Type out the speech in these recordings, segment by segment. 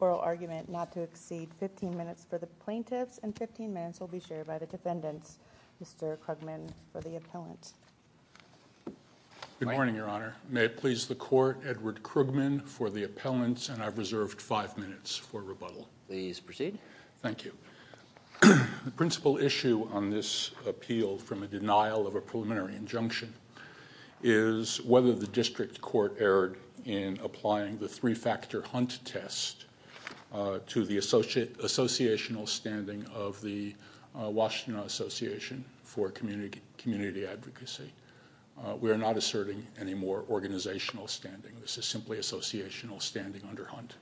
Oral argument not to exceed 15 minutes for the plaintiffs and 15 minutes will be shared by the defendants. Mr. Krugman for the appellant. Good morning, your honor. May it please the court, Edward Krugman for the appellant and I've reserved 5 minutes for rebuttal. Please proceed. Thank you. The principal issue on this appeal from a denial of a preliminary injunction is whether the district court erred in applying the three-factor hunt test to the associational standing of the Washtenaw Association for Community Advocacy. We are not asserting any more organizational standing. This is simply associational standing under hunt.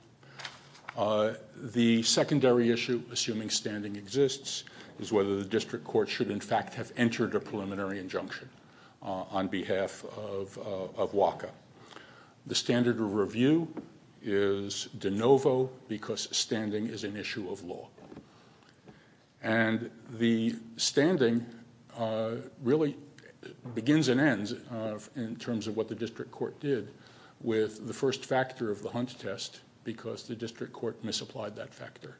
The secondary issue, assuming standing exists, is whether the district court should in fact have entered a preliminary injunction on behalf of WACA. The standard of review is de novo because standing is an issue of law. And the standing really begins and ends in terms of what the district court did with the first factor of the hunt test because the district court misapplied that factor.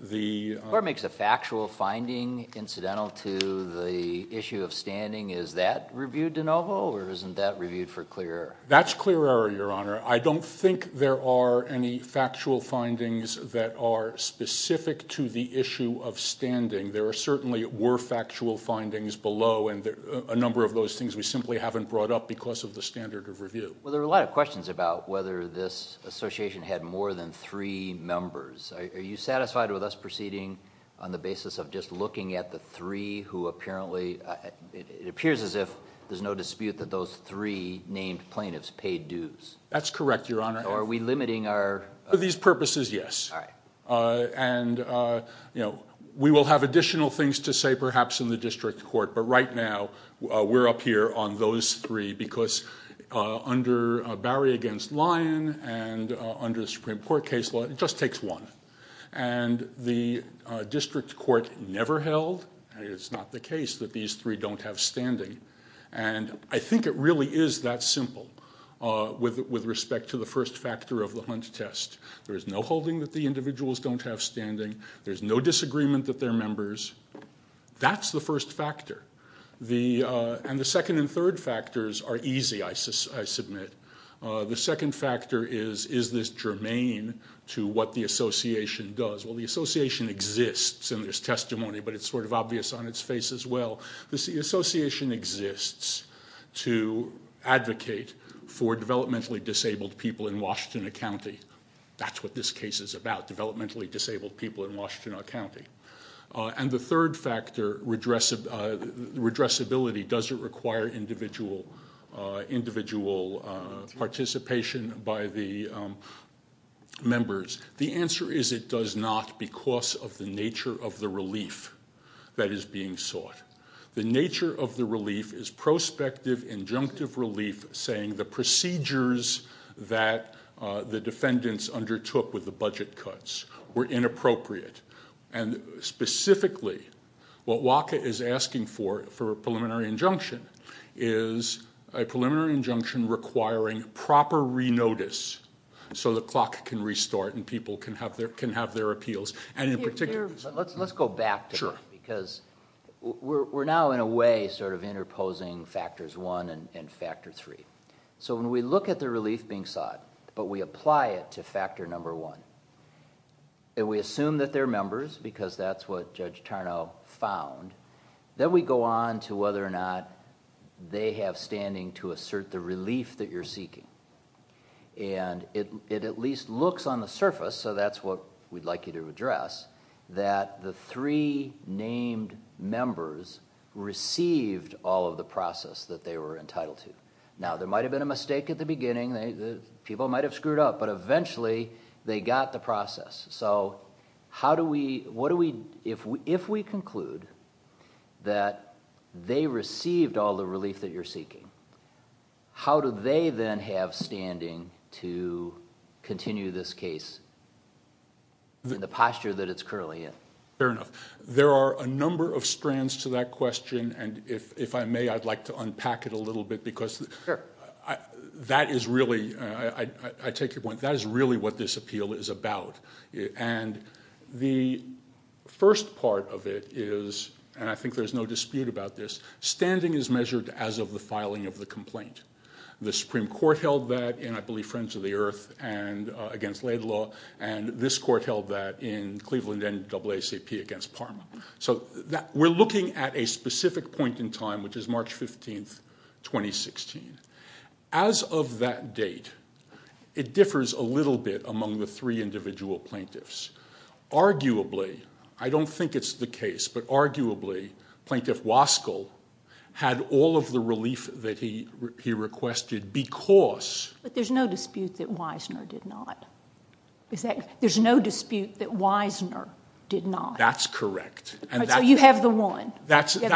The court makes a factual finding incidental to the issue of standing. Is that reviewed de novo or isn't that reviewed for clear error? That's clear error, your honor. I don't think there are any factual findings that are specific to the issue of standing. There certainly were factual findings below and a number of those things we simply haven't brought up because of the standard of review. Well, there are a lot of questions about whether this association had more than three members. Are you satisfied with us proceeding on the basis of just looking at the three who apparently it appears as if there's no dispute that those three named plaintiffs paid dues? That's correct, your honor. Are we limiting our... For these purposes, yes. And we will have additional things to say perhaps in the district court, but right now we're up here on those three because under Barry against Lyon and under the Supreme Court case law, it just takes one. And the district court never held and it's not the case that these three don't have standing. And I think it really is that simple with respect to the first factor of the hunt test. There's no holding that the individuals don't have standing. There's no disagreement that they're members. That's the first factor. And the second and third factors are easy, I submit. The second factor is, is this germane to what the association does? Well, the association exists and there's testimony, but it's sort of obvious on its face as well. The association exists to advocate for developmentally disabled people in Washington County. That's what this case is about, developmentally disabled people in Washington County. And the third factor, redressability, does it require individual participation by the members? The answer is it does not because of the nature of the relief that is being sought. The nature of the relief is prospective injunctive relief saying the procedures that the defendants undertook with the budget cuts were inappropriate. And specifically, what WACA is asking for, for a preliminary injunction, is a preliminary injunction requiring proper re-notice so the clock can restart and people can have their appeals. And in particular- Let's go back to that because we're now in a way sort of interposing factors one and factor three. So when we look at the relief being sought, but we apply it to factor number one. And we assume that they're members because that's what Judge Tarnow found. Then we go on to whether or not they have standing to assert the relief that you're seeking. And it at least looks on the surface, so that's what we'd like you to address, that the three named members received all of the process that they were entitled to. Now, there might have been a mistake at the beginning, people might have screwed up. But eventually, they got the process. So, if we conclude that they received all the relief that you're seeking, how do they then have standing to continue this case? The posture that it's currently in. Fair enough. There are a number of strands to that question. And if I may, I'd like to unpack it a little bit because that is really, I take your point, that is really what this appeal is about. And the first part of it is, and I think there's no dispute about this, standing is measured as of the filing of the complaint. The Supreme Court held that in, I believe, Friends of the Earth against Laidlaw. And this court held that in Cleveland NAACP against Parma. So we're looking at a specific point in time, which is March 15th, 2016. As of that date, it differs a little bit among the three individual plaintiffs. Arguably, I don't think it's the case, but arguably, Plaintiff Waskell had all of the relief that he requested because. But there's no dispute that Weisner did not. There's no dispute that Weisner did not. That's correct. And that's- So you have the one. That's exactly where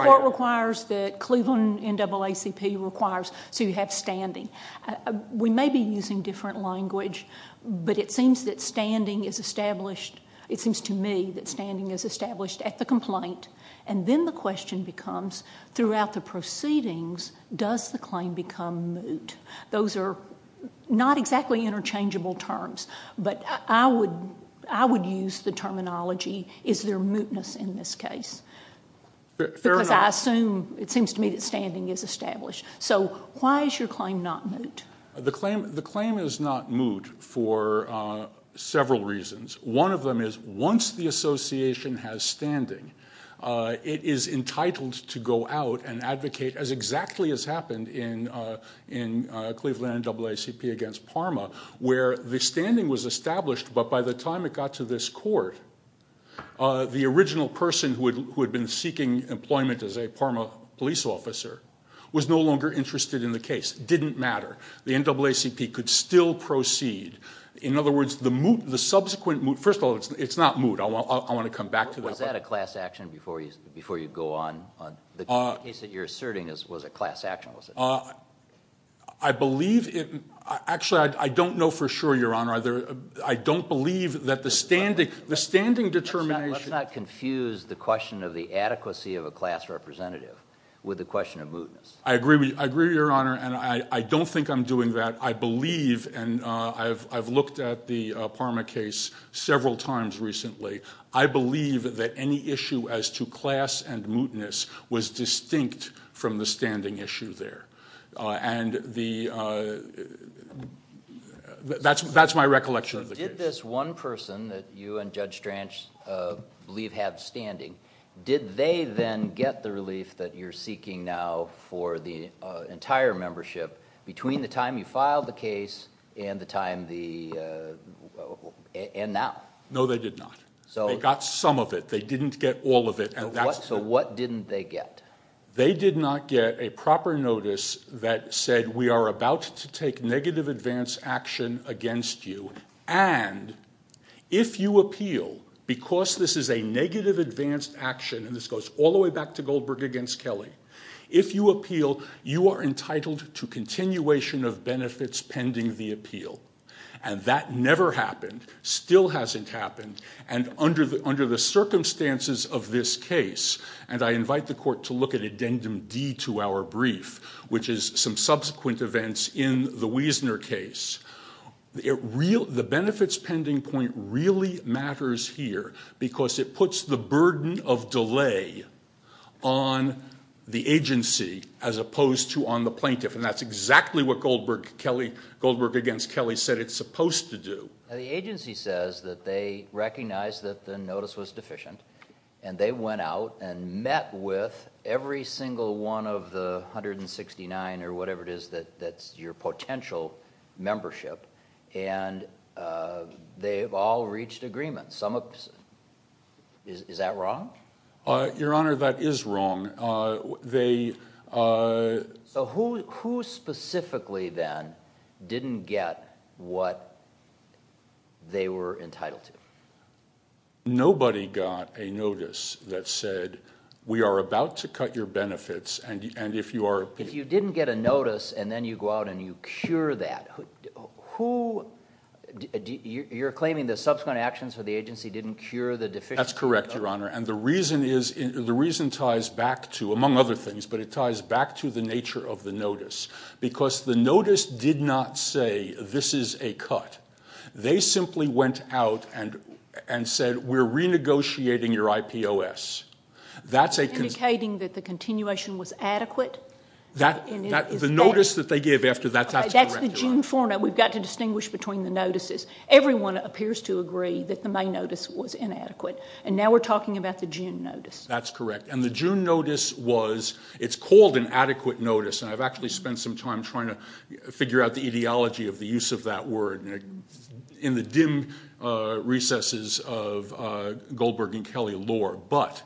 I am. It requires that Cleveland NAACP requires, so you have standing. We may be using different language, but it seems that standing is established. It seems to me that standing is established at the complaint. And then the question becomes, throughout the proceedings, does the claim become moot? Those are not exactly interchangeable terms. But I would use the terminology, is there mootness in this case? Fair enough. Because I assume, it seems to me that standing is established. So why is your claim not moot? The claim is not moot for several reasons. One of them is, once the association has standing, it is entitled to go out and advocate, as exactly as happened in Cleveland NAACP against Parma, where the standing was established, but by the time it got to this court, the original person who had been seeking employment as a Parma police officer was no longer interested in the case, didn't matter. The NAACP could still proceed. In other words, the subsequent moot, first of all, it's not moot. I want to come back to that. Was that a class action before you go on? The case that you're asserting was a class action, was it? I believe it, actually I don't know for sure, Your Honor. I don't believe that the standing determination- Let's not confuse the question of the adequacy of a class representative with the question of mootness. I agree with you, I agree, Your Honor, and I don't think I'm doing that. I believe, and I've looked at the Parma case several times recently. I believe that any issue as to class and mootness was distinct from the standing issue there. That's my recollection of the case. Did this one person that you and Judge Stranch believe had standing, did they then get the relief that you're seeking now for the entire membership between the time you filed the case and now? No, they did not. They got some of it. They didn't get all of it, and that's- What didn't they get? They did not get a proper notice that said, we are about to take negative advance action against you, and if you appeal, because this is a negative advance action, and this goes all the way back to Goldberg against Kelly. If you appeal, you are entitled to continuation of benefits pending the appeal. And that never happened, still hasn't happened, and under the circumstances of this case, and I invite the court to look at Addendum D to our brief, which is some subsequent events in the Wiesner case. The benefits pending point really matters here because it puts the burden of delay on the agency as opposed to on the plaintiff, and that's exactly what Goldberg against Kelly said it's supposed to do. The agency says that they recognize that the notice was deficient, and they went out and met with every single one of the 169 or whatever it is that's your potential membership, and they've all reached agreement. Some of, is that wrong? Your Honor, that is wrong. They- So who specifically then didn't get what they were entitled to? Nobody got a notice that said, we are about to cut your benefits, and if you are- If you didn't get a notice, and then you go out and you cure that, who, you're claiming the subsequent actions for the agency didn't cure the deficiency? That's correct, Your Honor, and the reason is, the reason ties back to, among other things, but it ties back to the nature of the notice. Because the notice did not say, this is a cut. They simply went out and said, we're renegotiating your IPOS. That's a- Indicating that the continuation was adequate? That, the notice that they gave after that, that's correct, Your Honor. That's the gene formula, we've got to distinguish between the notices. Everyone appears to agree that the May notice was inadequate, and now we're talking about the June notice. That's correct, and the June notice was, it's called an adequate notice, and I've actually spent some time trying to figure out the etiology of the use of that word in the dim recesses of Goldberg and Kelly lore. But,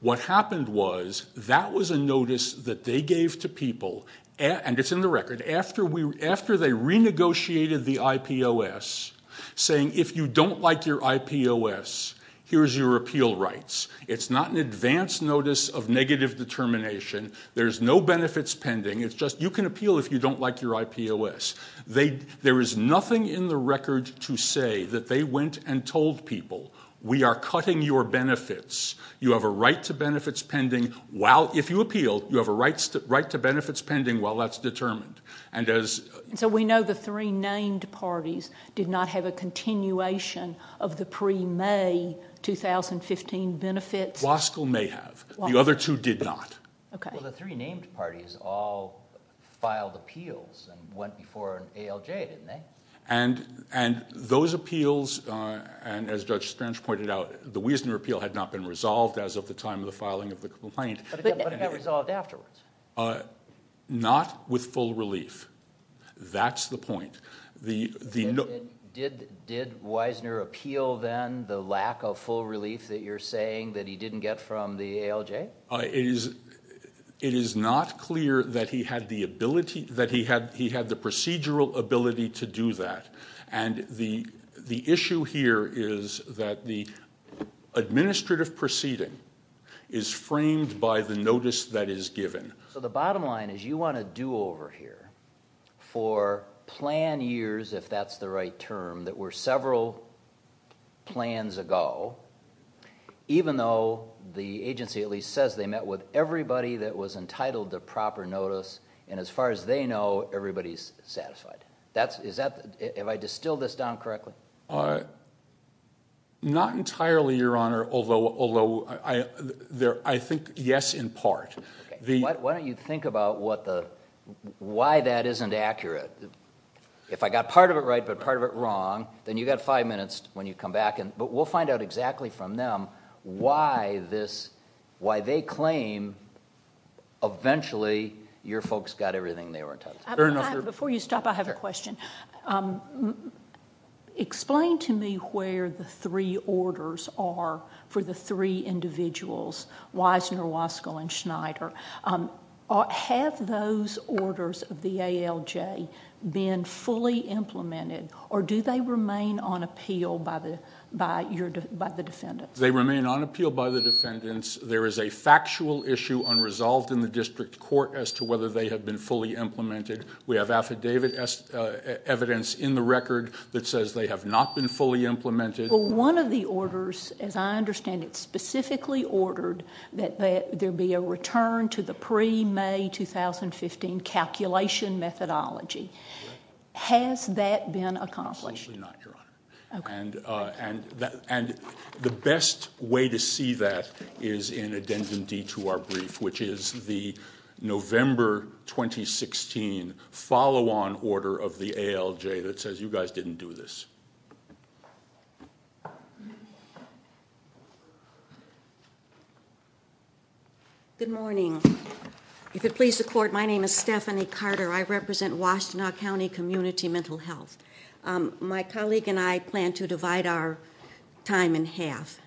what happened was, that was a notice that they gave to people, and it's in the record, after they renegotiated the IPOS, saying if you don't like your IPOS, here's your appeal rights. It's not an advance notice of negative determination, there's no benefits pending, it's just, you can appeal if you don't like your IPOS. They, there is nothing in the record to say that they went and told people, we are cutting your benefits, you have a right to benefits pending, while, if you appeal, you have a right to benefits pending while that's determined. And as- So we know the three named parties did not have a continuation of the pre-May 2015 benefits? Waskell may have, the other two did not. Okay. Well, the three named parties all filed appeals and went before ALJ, didn't they? And, and those appeals, and as Judge Strange pointed out, the Wiesner appeal had not been resolved as of the time of the filing of the complaint. But it got resolved afterwards? Not with full relief, that's the point. The, the- Did, did Wiesner appeal then, the lack of full relief that you're saying, that he didn't get from the ALJ? It is, it is not clear that he had the ability, that he had, he had the procedural ability to do that. And the, the issue here is that the administrative proceeding is framed by the notice that is given. So the bottom line is you want to do over here for plan years, if that's the right term, that were several plans ago, even though the agency at least says they met with everybody that was entitled to proper notice. And as far as they know, everybody's satisfied. That's, is that, have I distilled this down correctly? Not entirely, your honor, although, although I, I, there, I think yes in part. The- Why, why don't you think about what the, why that isn't accurate? If I got part of it right, but part of it wrong, then you got five minutes when you come back and, but we'll find out exactly from them, why this, why they claim eventually your folks got everything they were entitled to. Fair enough, your- Before you stop, I have a question. Explain to me where the three orders are for the three individuals, Weisner, Waskell, and Schneider. Have those orders of the ALJ been fully implemented, or do they remain on appeal by the, by your, by the defendants? They remain on appeal by the defendants. There is a factual issue unresolved in the district court as to whether they have been fully implemented. We have affidavit evidence in the record that says they have not been fully implemented. Well, one of the orders, as I understand it, specifically ordered that there be a return to the pre-May 2015 calculation methodology. Has that been accomplished? Absolutely not, your honor. Okay. And, and, and the best way to see that is in addendum D to our brief, which is the November 2016 follow-on order of the ALJ that says you guys didn't do this. Good morning. If it please the court, my name is Stephanie Carter. I represent Washtenaw County Community Mental Health. My colleague and I plan to divide our time in half.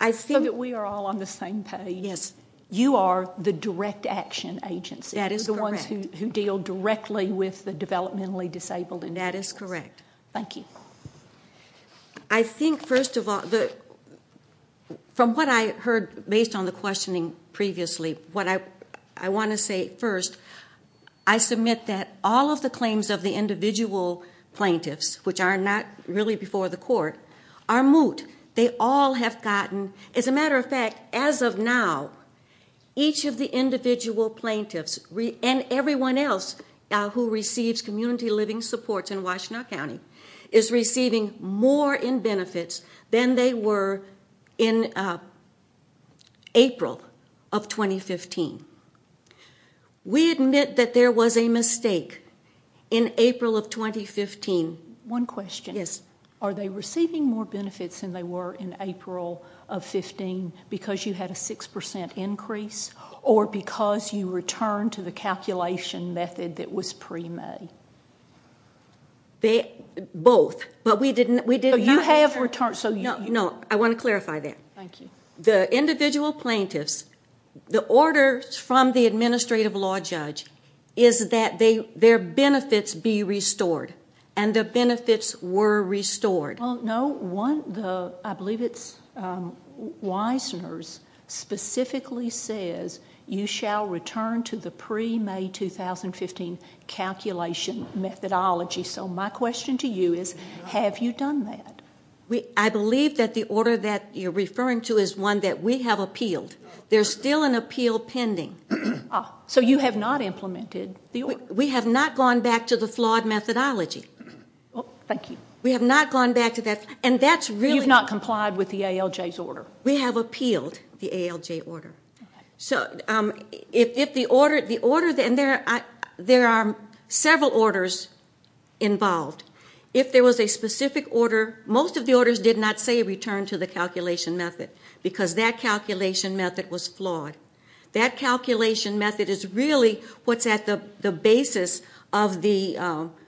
I think- So that we are all on the same page. Yes. You are the direct action agency. That is correct. You're the ones who, who deal directly with the developmentally disabled and- That is correct. Thank you. I think, first of all, the, from what I heard based on the questioning previously, what I, I want to say first, I submit that all of the claims of the individual plaintiffs, which are not really before the court, are moot. They all have gotten, as a matter of fact, as of now, each of the individual plaintiffs and everyone else who receives community living supports in Washtenaw County is receiving more in benefits than they were in April of 2015. We admit that there was a mistake in April of 2015. One question. Yes. Are they receiving more benefits than they were in April of 15 because you had a 6% increase or because you returned to the calculation method that was pre-May? Both, but we didn't, we did not- You have returned, so you- No, I want to clarify that. Thank you. The individual plaintiffs, the order from the administrative law judge is that their benefits be restored and the benefits were restored. Well, no. One, the, I believe it's Weisner's specifically says, you shall return to the pre-May 2015 calculation methodology. So my question to you is, have you done that? I believe that the order that you're referring to is one that we have appealed. There's still an appeal pending. So you have not implemented the order? We have not gone back to the flawed methodology. Thank you. We have not gone back to that. And that's really- You've not complied with the ALJ's order. We have appealed the ALJ order. So if the order, and there are several orders involved. If there was a specific order, most of the orders did not say return to the calculation method because that calculation method was flawed. That calculation method is really what's at the basis of the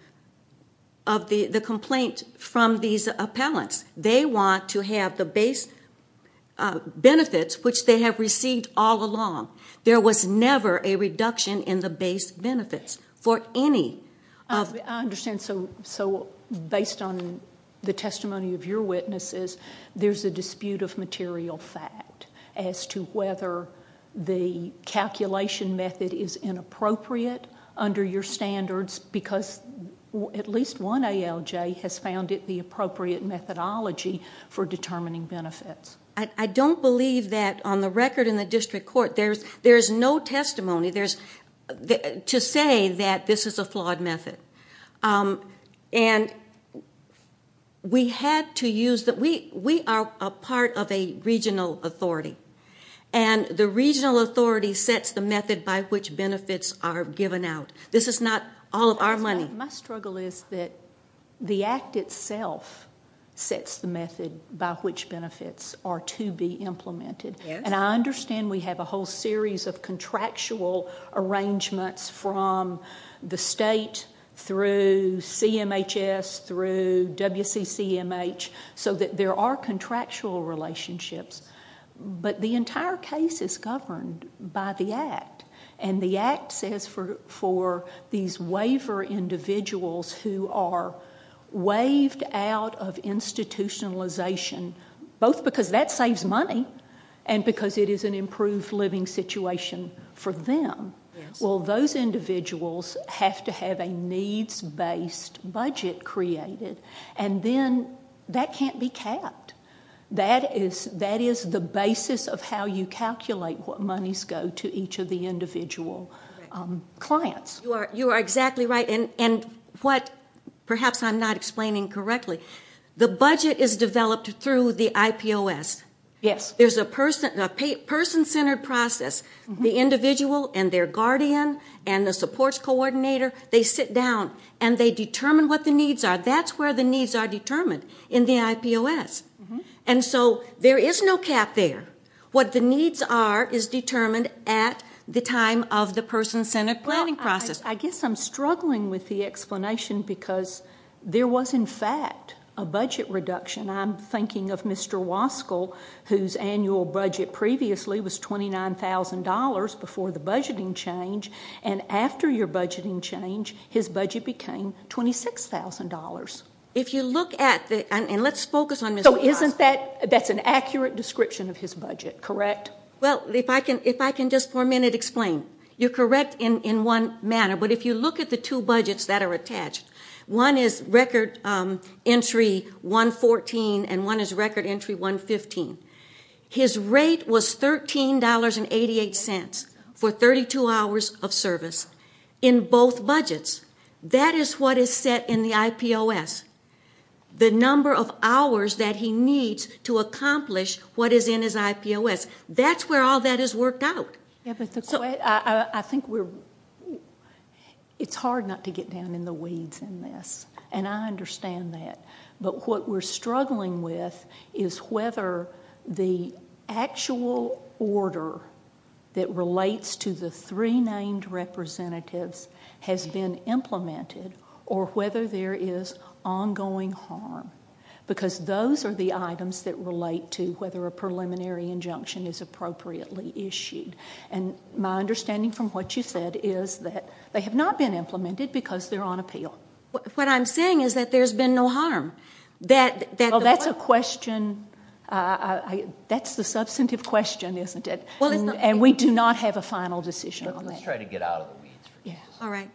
complaint from these appellants. They want to have the base benefits, which they have received all along. There was never a reduction in the base benefits for any of- I understand. So based on the testimony of your witnesses, there's a dispute of material fact as to whether the calculation method is inappropriate under your standards because at least one ALJ has found it the appropriate methodology for determining benefits. I don't believe that on the record in the district court, there's no testimony to say that this is a flawed method. And we are a part of a regional authority. And the regional authority sets the method by which benefits are given out. This is not all of our money. My struggle is that the act itself sets the method by which benefits are to be implemented. And I understand we have a whole series of contractual arrangements from the state, through CMHS, through WCCMH, so that there are contractual relationships. But the entire case is governed by the act. And the act says for these waiver individuals who are waived out of institutionalization, both because that saves money and because it is an improved living situation for them, well, those individuals have to have a needs-based budget created. And then that can't be capped. That is the basis of how you calculate what monies go to each of the individual clients. You are exactly right. And what perhaps I'm not explaining correctly, the budget is developed through the IPOS. There's a person-centered process. The individual and their guardian and the supports coordinator, they sit down and they determine what the needs are. That's where the needs are determined, in the IPOS. And so there is no cap there. What the needs are is determined at the time of the person-centered planning process. I guess I'm struggling with the explanation because there was, in fact, a budget reduction. I'm thinking of Mr. Waskell, whose annual budget previously was $29,000 before the budgeting change, and after your budgeting change, his budget became $26,000. If you look at the, and let's focus on Mr. Waskell. So isn't that, that's an accurate description of his budget, correct? Well, if I can just for a minute explain. You're correct in one manner. But if you look at the two budgets that are attached, one is record entry 114 and one is record entry 115. His rate was $13.88 for 32 hours of service in both budgets. That is what is set in the IPOS. The number of hours that he needs to accomplish what is in his IPOS. That's where all that is worked out. I think we're, it's hard not to get down in the weeds in this, and I understand that. But what we're struggling with is whether the actual order that relates to the three named representatives has been implemented or whether there is ongoing harm, because those are the items that relate to whether a preliminary injunction is appropriately issued. And my understanding from what you said is that they have not been implemented because they're on appeal. What I'm saying is that there's been no harm. That, that's a question, that's the substantive question, isn't it? And we do not have a final decision on that. Let's try to get out of the weeds. All right.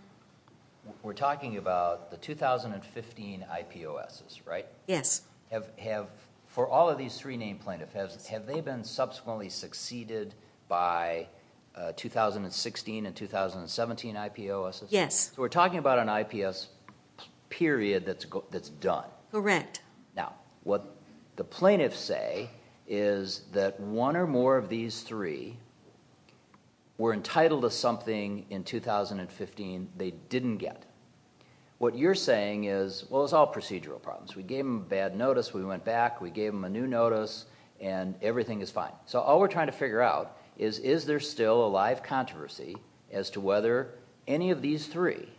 We're talking about the 2015 IPOSs, right? Yes. Have, have for all of these three named plaintiffs, have they been subsequently succeeded by 2016 and 2017 IPOSs? Yes. So we're talking about an IPS period that's, that's done. Correct. Now, what the plaintiffs say is that one or more of these three were entitled to something in 2015 they didn't get. What you're saying is, well, it's all procedural problems. We gave them bad notice, we went back, we gave them a new notice, and everything is fine. So all we're trying to figure out is, is there still a live controversy as to whether any of these three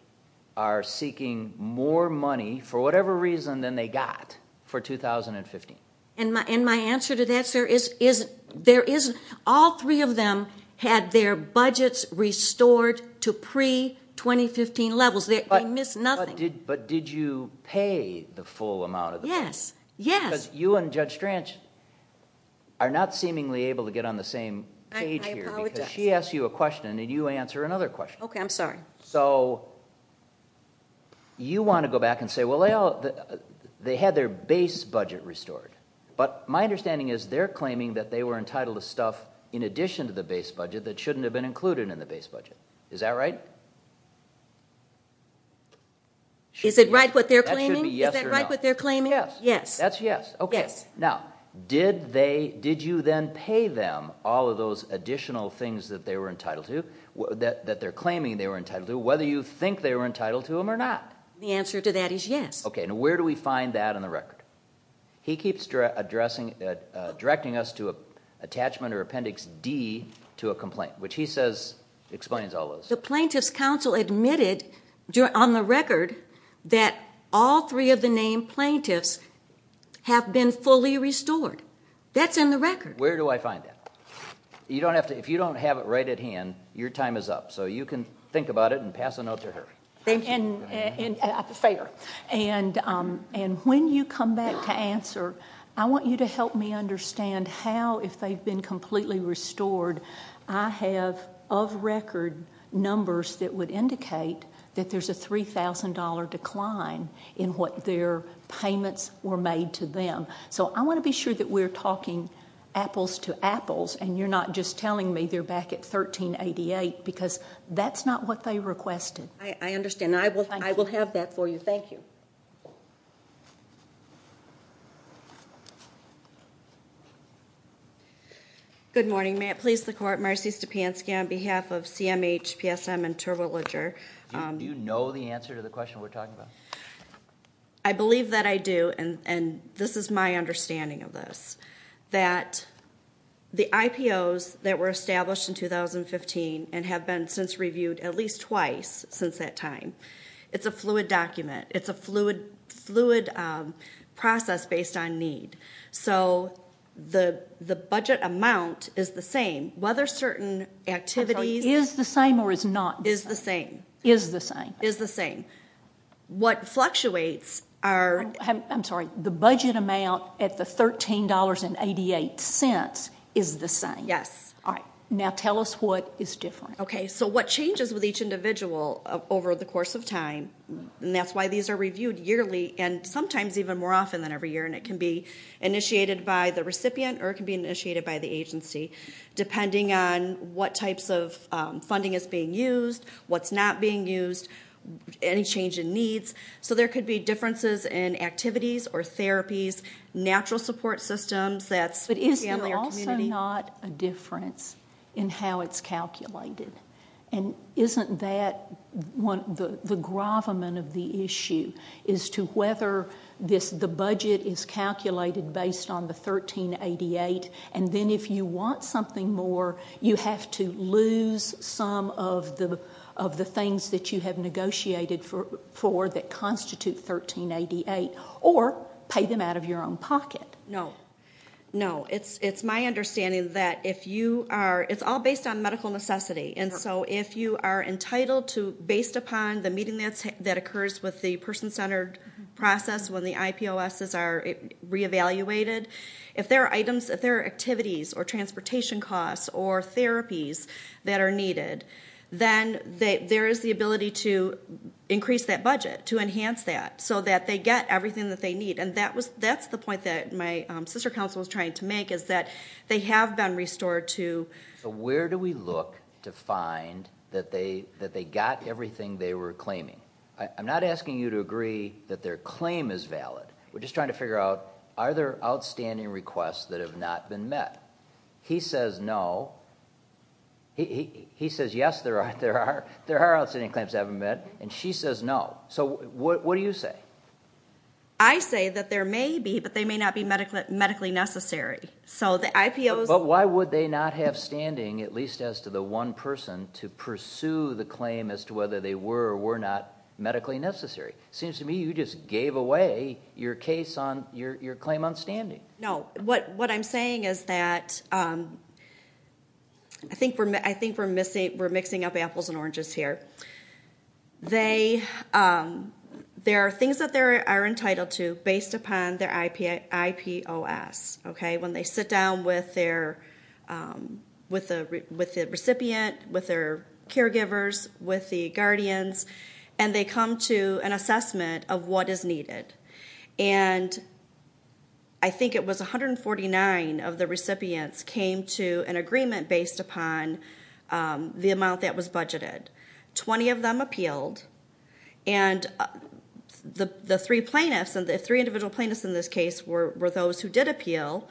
are seeking more money for whatever reason than they got for 2015? And my, and my answer to that, sir, is, is, there is, all three of them had their budgets restored to pre-2015 levels. They, they missed nothing. But did you pay the full amount of the money? Yes. Yes. You and Judge Strange are not seemingly able to get on the same page here. I apologize. She asked you a question and then you answer another question. Okay, I'm sorry. So you want to go back and say, well, they all, they had their base budget restored. But my understanding is they're claiming that they were entitled to stuff in addition to the base budget that shouldn't have been included in the base budget. Is that right? Is it right what they're claiming? That should be yes or no. Is that right what they're claiming? Yes. Yes. That's yes. Now, did they, did you then pay them all of those additional things that they were entitled to, that they're claiming they were entitled to, whether you think they were entitled to them or not? The answer to that is yes. Okay. Now, where do we find that on the record? He keeps addressing, directing us to an attachment or appendix D to a complaint, which he says, explains all those. The plaintiff's counsel admitted on the record that all three of the named plaintiffs have been fully restored. That's in the record. Where do I find that? You don't have to, if you don't have it right at hand, your time is up. So you can think about it and pass a note to her. Thank you. And fair. And when you come back to answer, I want you to help me understand how, if they've been indicate that there's a $3,000 decline in what their payments were made to them. So I want to be sure that we're talking apples to apples, and you're not just telling me they're back at 1388 because that's not what they requested. I understand. I will, I will have that for you. Thank you. Good morning. May it please the court, Marcy Stepanski on behalf of CMH, PSM, and Turbo Ledger. Do you know the answer to the question we're talking about? I believe that I do. And this is my understanding of this, that the IPOs that were established in 2015 and have been since reviewed at least twice since that time, it's a fluid document. It's a fluid process based on need. So the budget amount is the same. Whether certain activities... Is the same or is not? Is the same. Is the same. Is the same. What fluctuates are... I'm sorry. The budget amount at the $13.88 is the same. Yes. All right. Now tell us what is different. Okay. So what changes with each individual over the course of time, and that's why these are initiated by the recipient or it can be initiated by the agency, depending on what types of funding is being used, what's not being used, any change in needs. So there could be differences in activities or therapies, natural support systems, that's... But is there also not a difference in how it's calculated? And isn't that the gravamen of the issue is to whether the budget is calculated based on the $13.88, and then if you want something more, you have to lose some of the things that you have negotiated for that constitute $13.88 or pay them out of your own pocket. No. No. It's my understanding that if you are... It's all based on medical necessity. And so if you are entitled to, based upon the meeting that occurs with the person-centered process when the IPOSs are re-evaluated, if there are activities or transportation costs or therapies that are needed, then there is the ability to increase that budget, to enhance that so that they get everything that they need. And that's the point that my sister counsel was trying to make, is that they have been restored to... Where do we look to find that they got everything they were claiming? I'm not asking you to agree that their claim is valid. We're just trying to figure out, are there outstanding requests that have not been met? He says no. He says, yes, there are outstanding claims that haven't been met. And she says no. So what do you say? I say that there may be, but they may not be medically necessary. So the IPOs... But why would they not have standing, at least as to the one person, to pursue the claim as to whether they were or were not medically necessary? Seems to me you just gave away your claim on standing. No. What I'm saying is that... I think we're mixing up apples and oranges here. There are things that they are entitled to based upon their IPOS, okay? When they sit down with the recipient, with their caregivers, with the guardians, and they come to an assessment of what is needed. And I think it was 149 of the recipients came to an agreement based upon the amount that was budgeted. 20 of them appealed. And the three plaintiffs, and the three individual plaintiffs in this case were those who did appeal,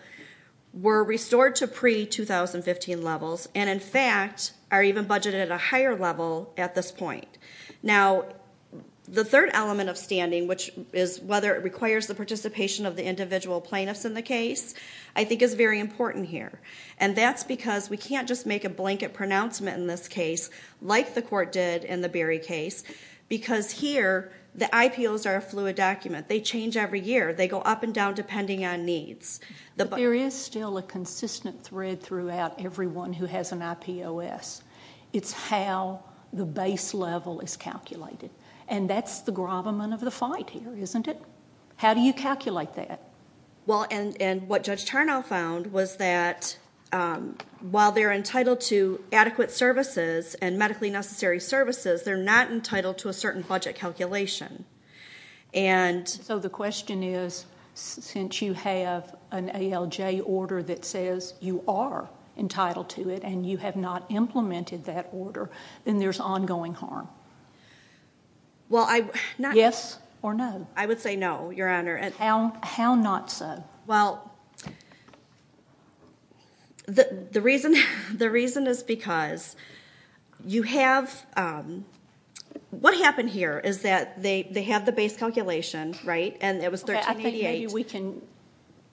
were restored to pre-2015 levels. And in fact, are even budgeted at a higher level at this point. Now, the third element of standing, which is whether it requires the participation of the individual plaintiffs in the case, I think is very important here. And that's because we can't just make a blanket pronouncement in this case, like the court did in the Berry case. Because here, the IPOs are a fluid document. They change every year. They go up and down depending on needs. But there is still a consistent thread throughout everyone who has an IPOS. It's how the base level is calculated. And that's the gravamen of the fight here, isn't it? How do you calculate that? Well, and what Judge Tarnow found was that while they're entitled to adequate services and medically necessary services, they're not entitled to a certain budget calculation. And- So the question is, since you have an ALJ order that says you are entitled to it, and you have not implemented that order, then there's ongoing harm. Well, I- Yes or no? I would say no, Your Honor. And how not so? Well, the reason is because you have- What happened here is that they have the base calculation, right? And it was 1388- Okay, I think maybe we can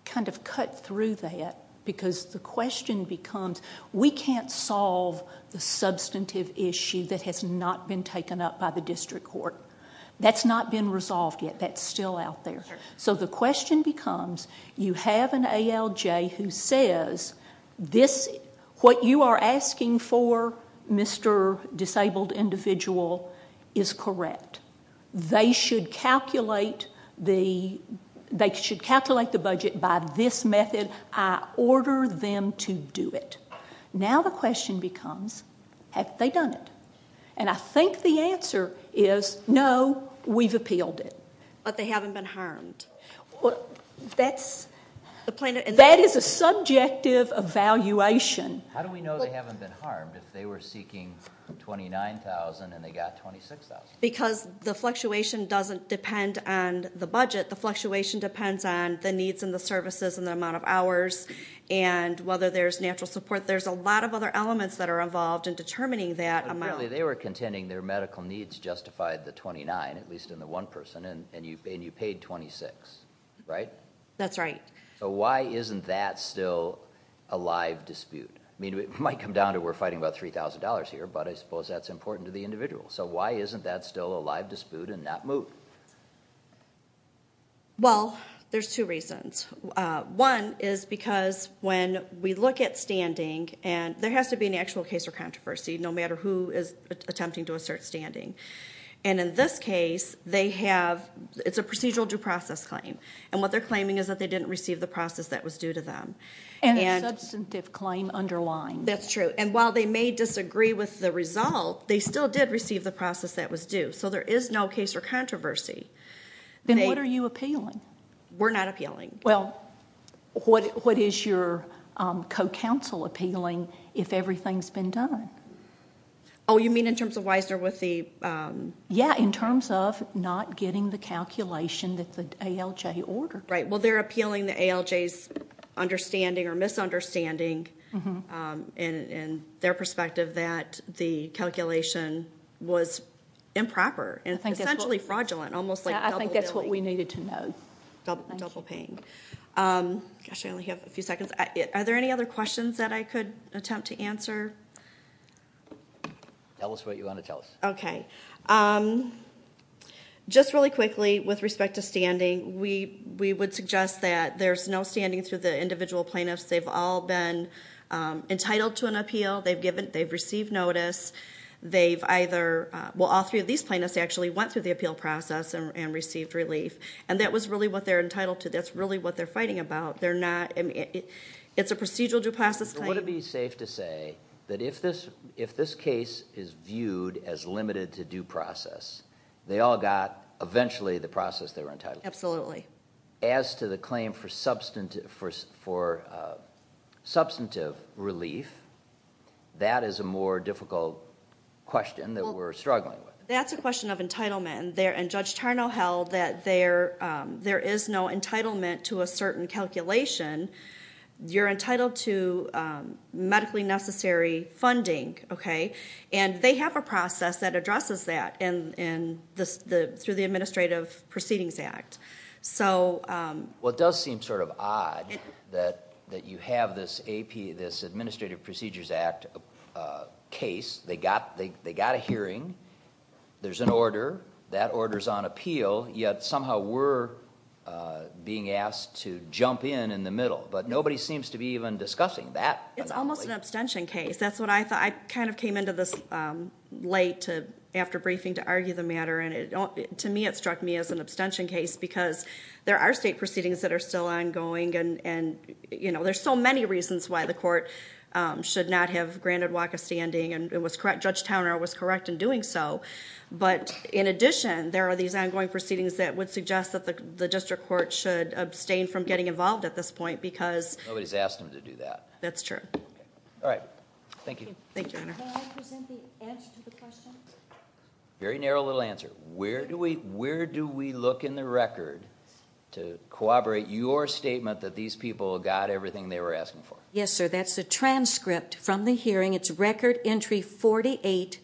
kind of cut through that. Because the question becomes, we can't solve the substantive issue that has not been taken up by the district court. That's not been resolved yet. That's still out there. So the question becomes, you have an ALJ who says, what you are asking for, Mr. Disabled Individual, is correct. They should calculate the budget by this method. I order them to do it. Now the question becomes, have they done it? And I think the answer is, no, we've appealed it. But they haven't been harmed. That is a subjective evaluation. How do we know they haven't been harmed if they were seeking $29,000 and they got $26,000? Because the fluctuation doesn't depend on the budget. The fluctuation depends on the needs and the services and the amount of hours and whether there's natural support. There's a lot of other elements that are involved in determining that amount. At least in the one person. And you paid $26,000, right? That's right. So why isn't that still a live dispute? I mean, it might come down to we're fighting about $3,000 here. But I suppose that's important to the individual. So why isn't that still a live dispute and not moved? Well, there's two reasons. One is because when we look at standing, and there has to be an actual case of controversy, no matter who is attempting to assert standing. And in this case, it's a procedural due process claim. And what they're claiming is that they didn't receive the process that was due to them. And a substantive claim underlying. That's true. And while they may disagree with the result, they still did receive the process that was due. So there is no case or controversy. Then what are you appealing? We're not appealing. Well, what is your co-counsel appealing if everything's been done? Oh, you mean in terms of Weisner with the... Yeah, in terms of not getting the calculation that the ALJ ordered. Right. Well, they're appealing the ALJ's understanding or misunderstanding in their perspective that the calculation was improper and essentially fraudulent. Almost like double billing. I think that's what we needed to know. Double paying. Gosh, I only have a few seconds. Are there any other questions that I could attempt to answer? Tell us what you want to tell us. Okay. Just really quickly with respect to standing. We would suggest that there's no standing through the individual plaintiffs. They've all been entitled to an appeal. They've received notice. They've either... Well, all three of these plaintiffs actually went through the appeal process and received relief. And that was really what they're entitled to. That's really what they're fighting about. They're not... It's a procedural due process claim. Would it be safe to say that if this case is viewed as limited to due process, they all got eventually the process they were entitled to? Absolutely. As to the claim for substantive relief, that is a more difficult question that we're struggling with. That's a question of entitlement. And Judge Tarnow held that there is no entitlement to a certain calculation. You're entitled to medically necessary funding, okay? And they have a process that addresses that through the Administrative Proceedings Act. Well, it does seem sort of odd that you have this Administrative Procedures Act case. They got a hearing. There's an order. That order's on appeal. Yet somehow we're being asked to jump in in the middle. But nobody seems to be even discussing that. It's almost an abstention case. That's what I thought. I kind of came into this late after briefing to argue the matter. And to me, it struck me as an abstention case. Because there are state proceedings that are still ongoing. And there's so many reasons why the court should not have granted walk of standing. And Judge Tarnow was correct in doing so. But in addition, there are these ongoing proceedings that would suggest that the District Court should abstain from getting involved at this point. Because... Nobody's asked them to do that. That's true. All right. Thank you. Thank you, Your Honor. Can I present the answer to the question? Very narrow little answer. Where do we look in the record to corroborate your statement that these people got everything they were asking for? Yes, sir. That's the transcript from the hearing. It's Record Entry 48.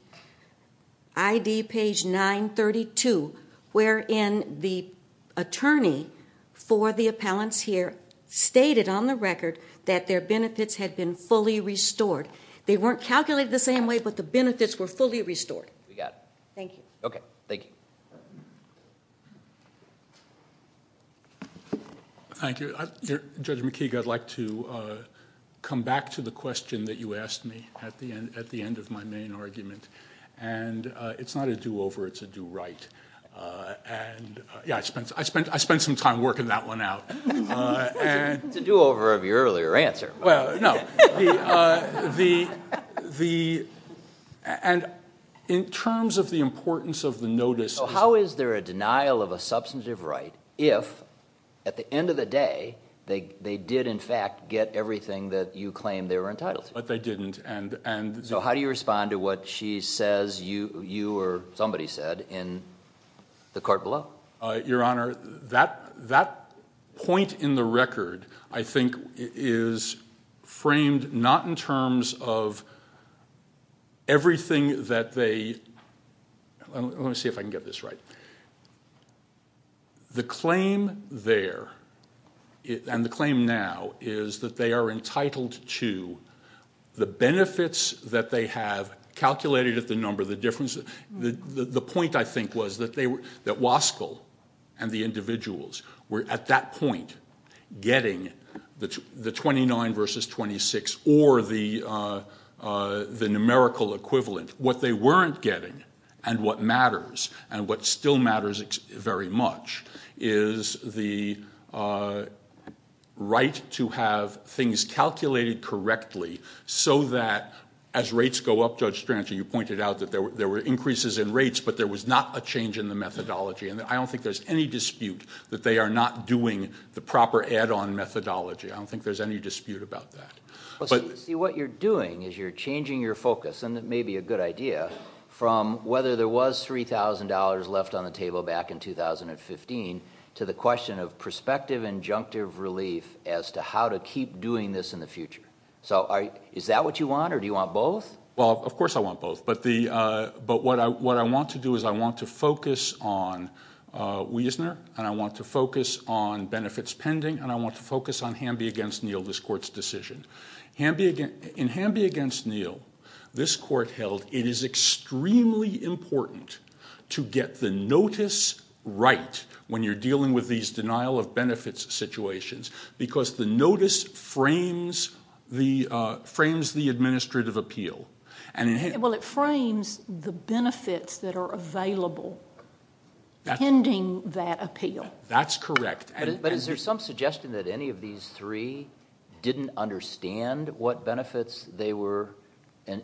ID page 932. Wherein the attorney for the appellants here stated on the record that their benefits had been fully restored. They weren't calculated the same way, but the benefits were fully restored. We got it. Thank you. Okay. Thank you. Thank you. Judge McKeague, I'd like to come back to the question that you asked me at the end of my argument. It's not a do-over. It's a do-right. I spent some time working that one out. It's a do-over of your earlier answer. Well, no. In terms of the importance of the notice... How is there a denial of a substantive right if, at the end of the day, they did, in fact, get everything that you claimed they were entitled to? But they didn't. How do you respond to what she says you or somebody said in the court below? Your Honor, that point in the record, I think, is framed not in terms of everything that they... Let me see if I can get this right. The claim there, and the claim now, is that they are entitled to the benefits that they have calculated at the number of the difference... The point, I think, was that Waskell and the individuals were, at that point, getting the 29 versus 26 or the numerical equivalent. What they weren't getting, and what matters, and what still matters very much, is the right to have things calculated correctly so that, as rates go up... Judge Strancher, you pointed out that there were increases in rates, but there was not a change in the methodology. I don't think there's any dispute that they are not doing the proper add-on methodology. I don't think there's any dispute about that. What you're doing is you're changing your focus, and it may be a good idea, from whether there was $3,000 left on the table back in 2015 to the question of prospective injunctive relief as to how to keep doing this in the future. Is that what you want, or do you want both? Well, of course I want both, but what I want to do is I want to focus on Wiesner, and I In Hamby v. Neal, this court held it is extremely important to get the notice right when you're dealing with these denial-of-benefits situations because the notice frames the administrative appeal. Well, it frames the benefits that are available pending that appeal. That's correct. But is there some suggestion that any of these three didn't understand what benefits they were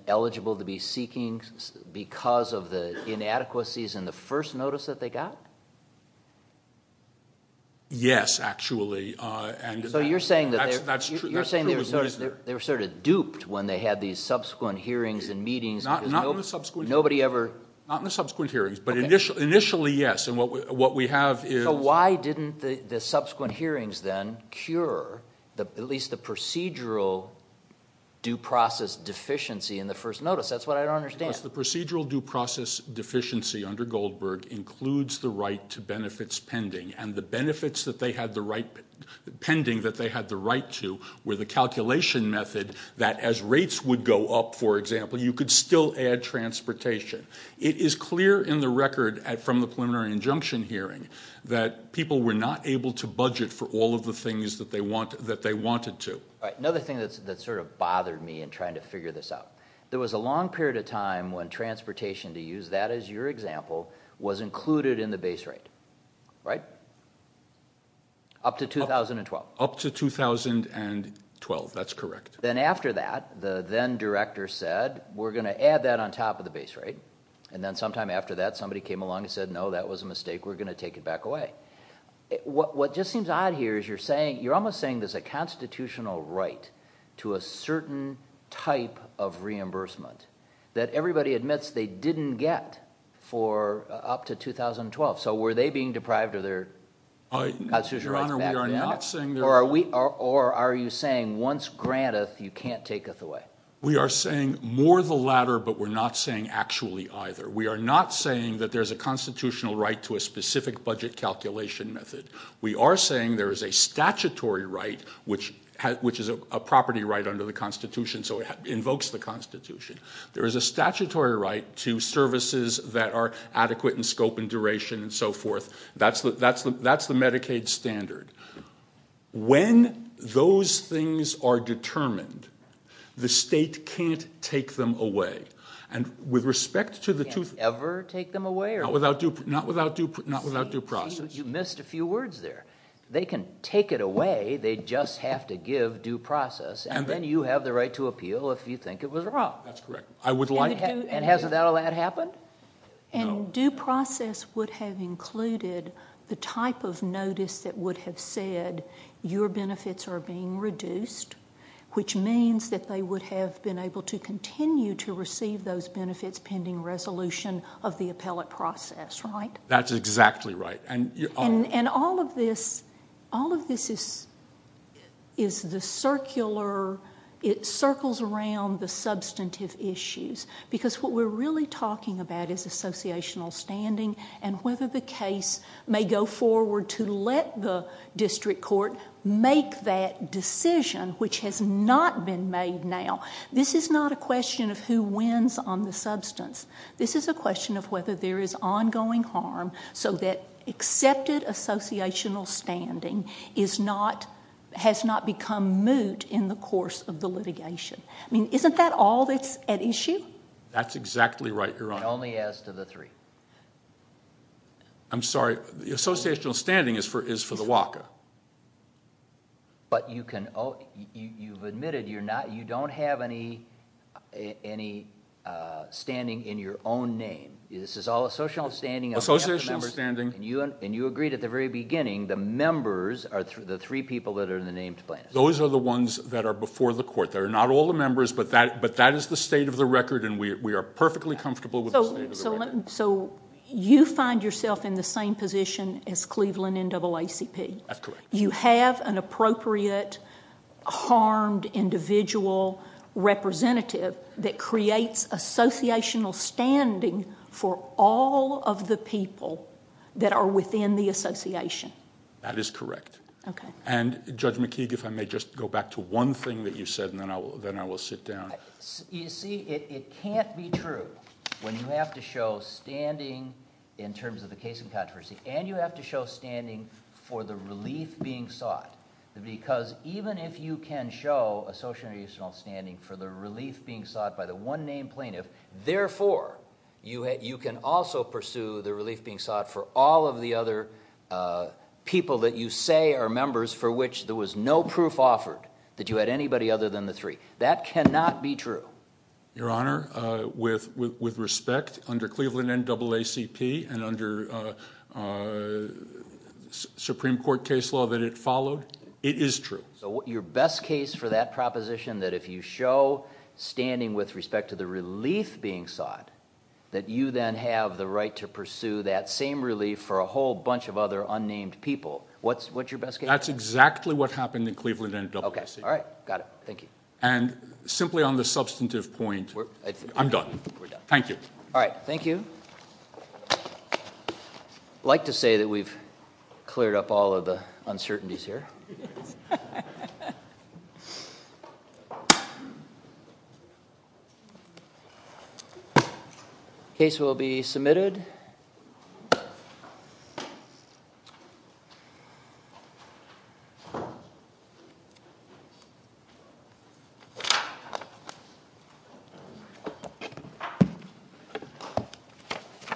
eligible to be seeking because of the inadequacies in the first notice that they got? Yes, actually. So you're saying that they were sort of duped when they had these subsequent hearings and meetings. Not in the subsequent hearings, but initially, yes, and what we have is Why didn't the subsequent hearings, then, cure at least the procedural due process deficiency in the first notice? That's what I don't understand. Because the procedural due process deficiency under Goldberg includes the right to benefits pending, and the benefits that they had the right pending that they had the right to were the calculation method that as rates would go up, for example, you could still add transportation. It is clear in the record from the preliminary injunction hearing that people were not able to budget for all of the things that they wanted to. Right. Another thing that sort of bothered me in trying to figure this out, there was a long period of time when transportation, to use that as your example, was included in the base rate, right? Up to 2012. Up to 2012, that's correct. Then after that, the then director said, we're going to add that on top of the base rate. And then sometime after that, somebody came along and said, no, that was a mistake. We're going to take it back away. What just seems odd here is you're saying, you're almost saying there's a constitutional right to a certain type of reimbursement that everybody admits they didn't get for up to 2012. So were they being deprived of their constitutional rights back then? Your Honor, we are not saying they were. Or are you saying once granted, you can't take it away? We are saying more the latter, but we're not saying actually either. We are not saying that there's a constitutional right to a specific budget calculation method. We are saying there is a statutory right, which is a property right under the Constitution, so it invokes the Constitution. There is a statutory right to services that are adequate in scope and duration and so forth. That's the Medicaid standard. When those things are determined, the state can't take them away. And with respect to the two- Can't ever take them away? Not without due process. You missed a few words there. They can take it away. They just have to give due process, and then you have the right to appeal if you think it was wrong. That's correct. I would like to- And hasn't that allowed to happen? And due process would have included the type of notice that would have said your benefits are being reduced, which means that they would have been able to continue to receive those benefits pending resolution of the appellate process, right? That's exactly right. And all of this is the circular, it circles around the substantive issues, because what we're really talking about is associational standing and whether the case may go forward to let the district court make that decision, which has not been made now. This is not a question of who wins on the substance. This is a question of whether there is ongoing harm so that accepted associational standing has not become moot in the course of the litigation. I mean, isn't that all that's at issue? That's exactly right, Your Honor. Only as to the three. I'm sorry. The associational standing is for the WACA. But you've admitted you don't have any standing in your own name. This is all associational standing. Associational standing. And you agreed at the very beginning the members are the three people that are in the named plaintiffs. Those are the ones that are before the court. They're not all the members, but that is the state of the record, and we are perfectly comfortable with the state of the record. So you find yourself in the same position as Cleveland NAACP? That's correct. You have an appropriate harmed individual representative that creates associational standing for all of the people that are within the association? That is correct. Okay. And Judge McKeague, if I may just go back to one thing that you said, and then I will sit down. You see, it can't be true when you have to show standing in terms of the case in controversy, and you have to show standing for the relief being sought. Because even if you can show associational standing for the relief being sought by the one named plaintiff, therefore, you can also pursue the relief being sought for all of the other people that you say are members for which there was no proof offered that you had anybody other than the three. That cannot be true. Your Honor, with respect, under Cleveland NAACP and under Supreme Court case law that it followed, it is true. So your best case for that proposition, that if you show standing with respect to the relief being sought, that you then have the right to pursue that same relief for a whole bunch of other unnamed people, what's your best case? That's exactly what happened in Cleveland NAACP. Okay. All right. Got it. Thank you. And simply on the substantive point, I'm done. We're done. Thank you. All right. Thank you. I'd like to say that we've cleared up all of the uncertainties here. The case will be submitted.